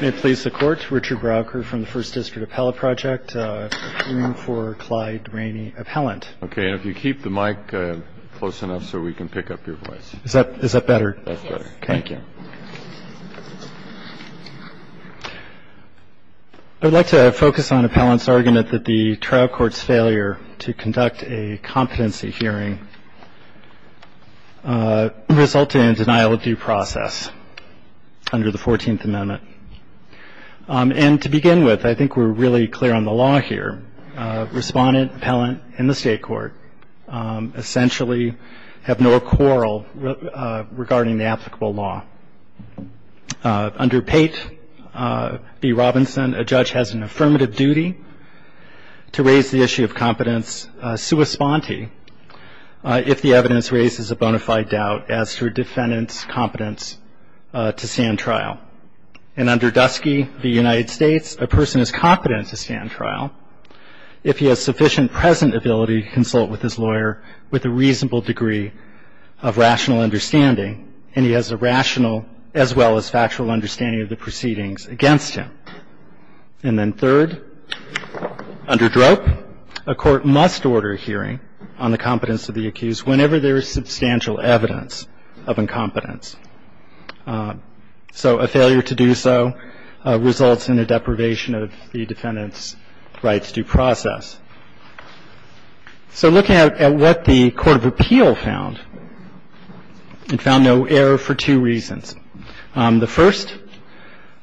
May it please the Court, Richard Browker from the First District Appellate Project, hearing for Clyde Rainey, Appellant. Okay, and if you keep the mic close enough so we can pick up your voice. Is that better? That's better. Thank you. I would like to focus on Appellant's argument that the trial court's failure to conduct a competency hearing resulted in a denial of due process under the 14th Amendment. And to begin with, I think we're really clear on the law here. Respondent, Appellant, and the State Court essentially have no quarrel regarding the applicable law. Under Pate v. Robinson, a judge has an affirmative duty to raise the issue of competence sua sponte. If the evidence raises a bona fide doubt as to a defendant's competence to stand trial. And under Dusky v. United States, a person is competent to stand trial if he has sufficient present ability to consult with his lawyer with a reasonable degree of rational understanding, and he has a rational as well as factual understanding of the proceedings against him. And then third, under Drope, a court must order a hearing on the competence of the accused whenever there is substantial evidence of incompetence. So a failure to do so results in a deprivation of the defendant's right to due process. So looking at what the Court of Appeal found, it found no error for two reasons. The first,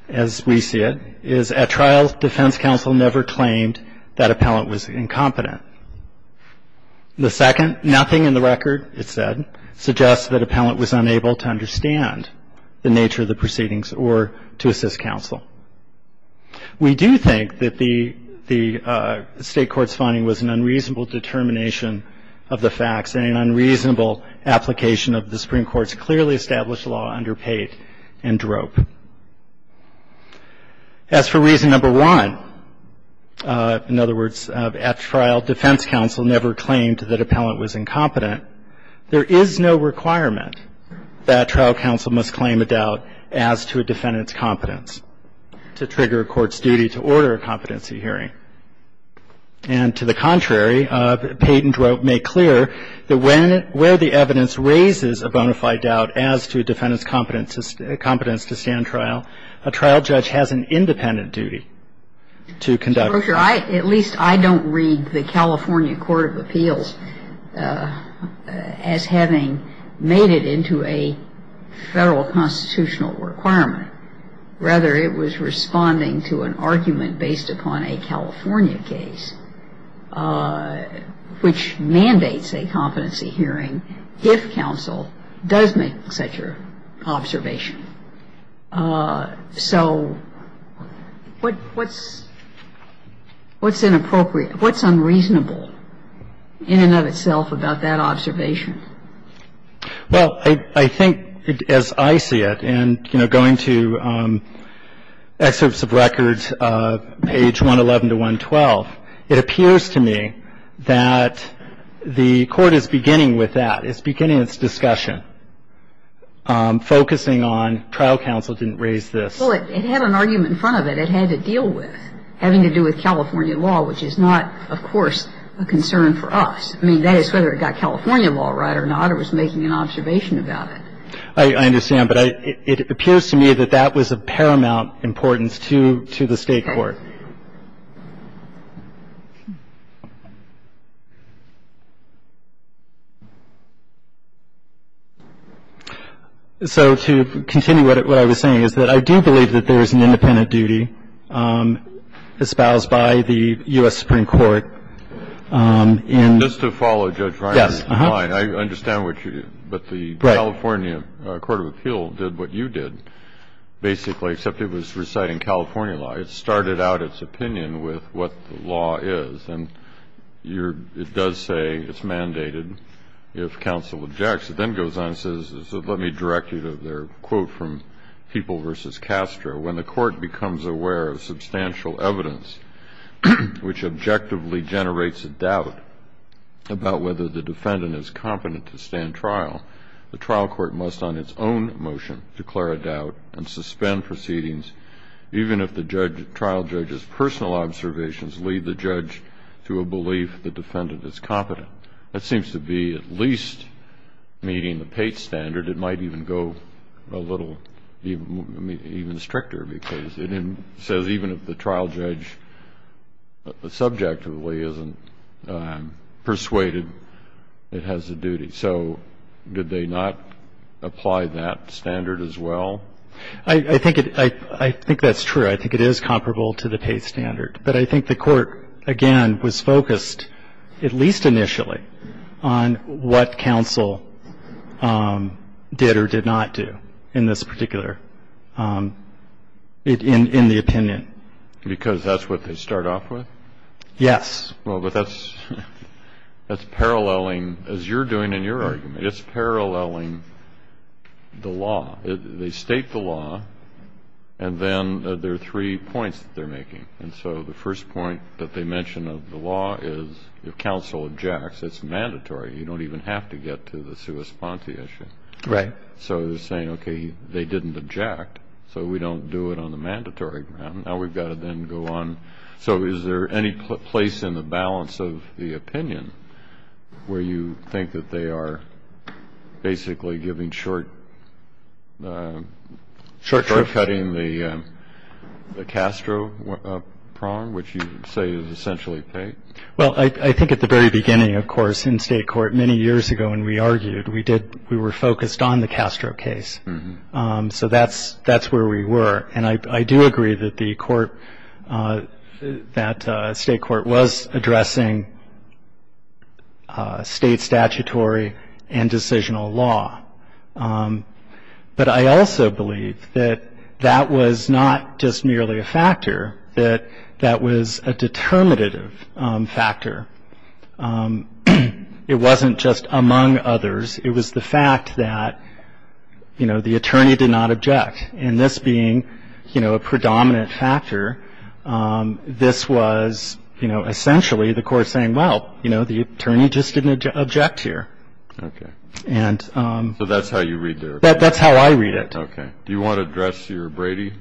as we see it, is at trial, defense counsel never claimed that appellant was incompetent. The second, nothing in the record, it said, suggests that appellant was unable to understand the nature of the proceedings or to assist counsel. We do think that the State Court's finding was an unreasonable determination of the facts and an unreasonable application of the Supreme Court's clearly established law under Pate and Drope. As for reason number one, in other words, at trial defense counsel never claimed that appellant was incompetent, there is no requirement that trial counsel must claim a doubt as to a defendant's competence to trigger a court's duty to order a competency hearing. And to the contrary, Pate and Drope make clear that when the evidence raises a bona fide doubt as to a defendant's competence to stand trial, a trial judge has an independent duty to conduct. At least I don't read the California Court of Appeals as having made it into a Federal constitutional requirement. Rather, it was responding to an argument based upon a California case which mandates a competency hearing if counsel does make such an observation. So what's unreasonable in and of itself about that observation? Well, I think as I see it, and, you know, going to excerpts of records, page 111 to 112, it appears to me that the Court is beginning with that. It's beginning its discussion, focusing on trial counsel didn't raise this. Well, it had an argument in front of it. It had to deal with having to do with California law, which is not, of course, a concern for us. I mean, that is whether it got California law right or not or was making an observation about it. I understand. But it appears to me that that was of paramount importance to the State court. So to continue what I was saying is that I do believe that there is an independent duty espoused by the U.S. Supreme Court in. Just to follow, Judge Ryan. Yes. I understand what you're doing. But the California Court of Appeal did what you did, basically, except it was reciting California law. It started out its opinion with what the law is. And it does say it's mandated if counsel objects. It then goes on and says, let me direct you to their quote from People v. Castro. It says, I think it's important to note that when the court becomes aware of substantial evidence which objectively generates a doubt about whether the defendant is competent to stand trial, the trial court must on its own motion declare a doubt and suspend proceedings even if the trial judge's personal observations lead the judge to a belief the defendant is competent. Now, that seems to be at least meeting the Pate standard. It might even go a little even stricter, because it says even if the trial judge subjectively isn't persuaded, it has a duty. So did they not apply that standard as well? I think it — I think that's true. I think it is comparable to the Pate standard. But I think the court, again, was focused, at least initially, on what counsel did or did not do in this particular — in the opinion. Because that's what they start off with? Yes. Well, but that's paralleling, as you're doing in your argument, it's paralleling the law. They state the law, and then there are three points that they're making. And so the first point that they mention of the law is if counsel objects, it's mandatory. You don't even have to get to the sua sponte issue. Right. So they're saying, okay, they didn't object, so we don't do it on the mandatory ground. Now we've got to then go on. So is there any place in the balance of the opinion where you think that they are basically giving short — shortcutting the Castro prong, which you say is essentially Pate? Well, I think at the very beginning, of course, in state court, many years ago when we argued, we did — we were focused on the Castro case. So that's where we were. And I do agree that the court — that state court was addressing state statutory and constitutional law. But I also believe that that was not just merely a factor, that that was a determinative factor. It wasn't just among others. It was the fact that, you know, the attorney did not object. And this being, you know, a predominant factor, this was, you know, essentially the court saying, well, you know, the attorney just didn't object here. Okay. And — So that's how you read their opinion? That's how I read it. Okay. Do you want to address your Brady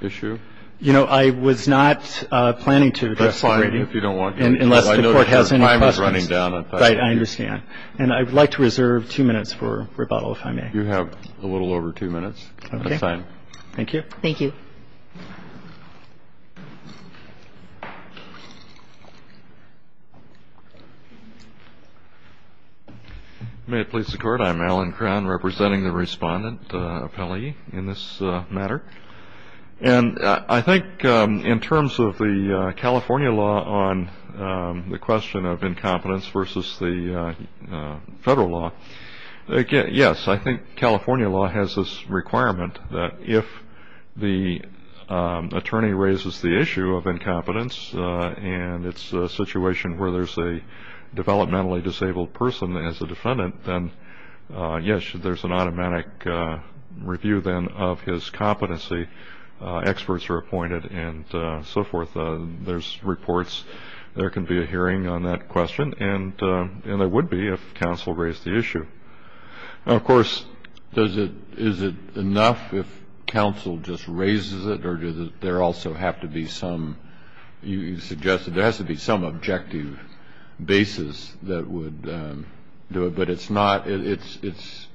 issue? You know, I was not planning to address the Brady — That's fine, if you don't want to. Unless the court has any questions. I know your time is running down. Right. I understand. And I would like to reserve two minutes for rebuttal, if I may. You have a little over two minutes. Okay. That's fine. Thank you. Thank you. May it please the Court, I'm Alan Crown, representing the respondent appellee in this matter. And I think in terms of the California law on the question of incompetence versus the federal law, yes, I think California law has this requirement that if the attorney raises the issue of incompetence, and it's a situation where there's a developmentally disabled person as a defendant, then yes, there's an automatic review, then, of his competency. Experts are appointed and so forth. There's reports. There can be a hearing on that question, and there would be if counsel raised the issue. Now, of course, is it enough if counsel just raises it, or does there also have to be some, you suggested, there has to be some objective basis that would do it. But it's not, it's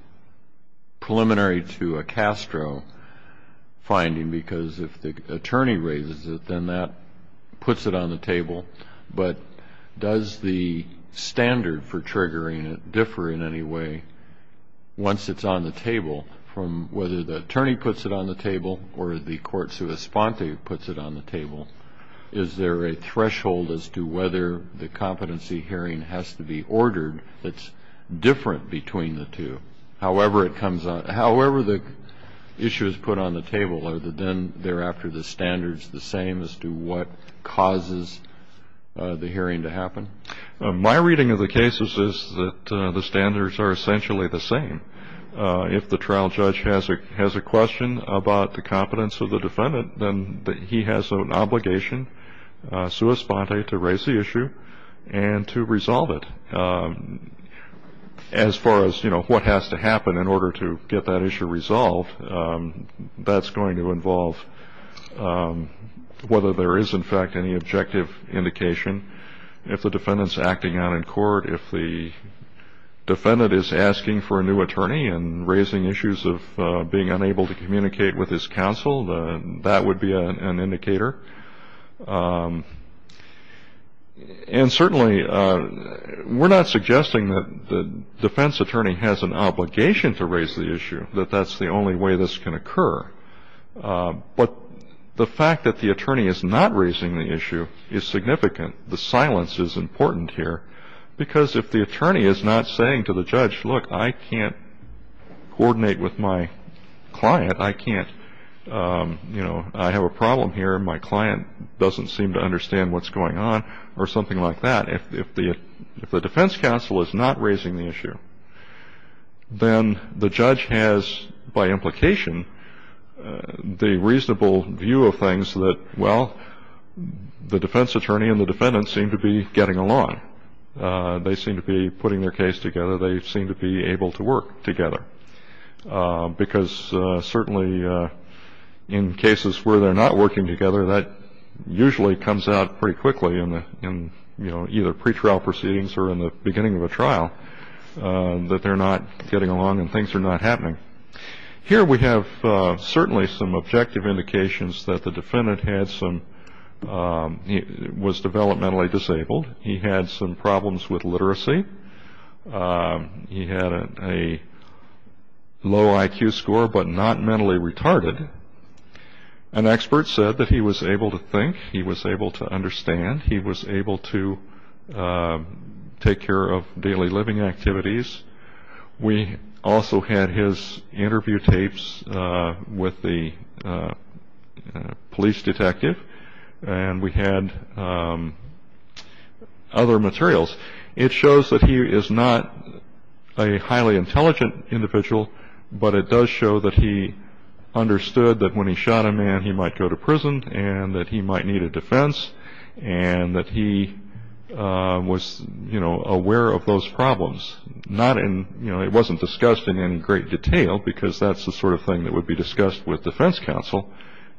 preliminary to a Castro finding, because if the attorney raises it, then that puts it on the table. But does the standard for triggering it differ in any way once it's on the table from whether the attorney puts it on the table or the court's response puts it on the table? Is there a threshold as to whether the competency hearing has to be ordered that's different between the two? However it comes out, however the issue is put on the table, are then thereafter the standards the same as to what causes the hearing to happen? My reading of the cases is that the standards are essentially the same. If the trial judge has a question about the competence of the defendant, then he has an obligation, sua sponte, to raise the issue and to resolve it. As far as, you know, what has to happen in order to get that issue resolved, that's going to involve whether there is in fact any objective indication. If the defendant's acting out in court, if the defendant is asking for a new attorney and raising issues of being unable to communicate with his counsel, then that would be an indicator. And certainly we're not suggesting that the defense attorney has an obligation to raise the issue, that that's the only way this can occur. But the fact that the attorney is not raising the issue is significant. The silence is important here because if the attorney is not saying to the judge, look, I can't coordinate with my client, I can't, you know, I have a problem here, my client doesn't seem to understand what's going on, or something like that, if the defense counsel is not raising the issue, then the judge has, by implication, the reasonable view of things that, well, the defense attorney and the defendant seem to be getting along. They seem to be putting their case together. They seem to be able to work together. Because certainly in cases where they're not working together, that usually comes out pretty quickly in, you know, either pretrial proceedings or in the beginning of a trial. That they're not getting along and things are not happening. Here we have certainly some objective indications that the defendant had some, was developmentally disabled, he had some problems with literacy, he had a low IQ score but not mentally retarded. An expert said that he was able to think, he was able to understand, he was able to take care of daily living activities. We also had his interview tapes with the police detective, and we had other materials. It shows that he is not a highly intelligent individual, but it does show that he understood that when he shot a man he might go to prison and that he might need a defense and that he was, you know, aware of those problems. Not in, you know, it wasn't discussed in any great detail because that's the sort of thing that would be discussed with defense counsel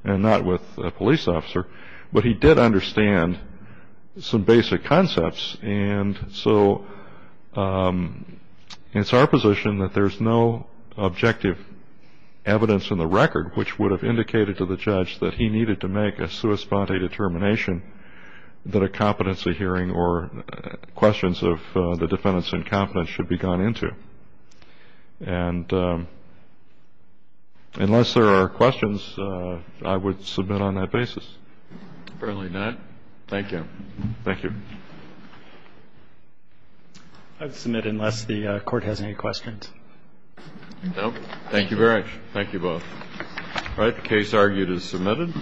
and not with a police officer, but he did understand some basic concepts. And so it's our position that there's no objective evidence in the record which would have indicated to the judge that he needed to make a sua sponte determination that a competency hearing or questions of the defendant's incompetence should be gone into. And unless there are questions, I would submit on that basis. Apparently not. Thank you. Thank you. I would submit unless the Court has any questions. Thank you very much. Thank you both. All right. The case argued is submitted.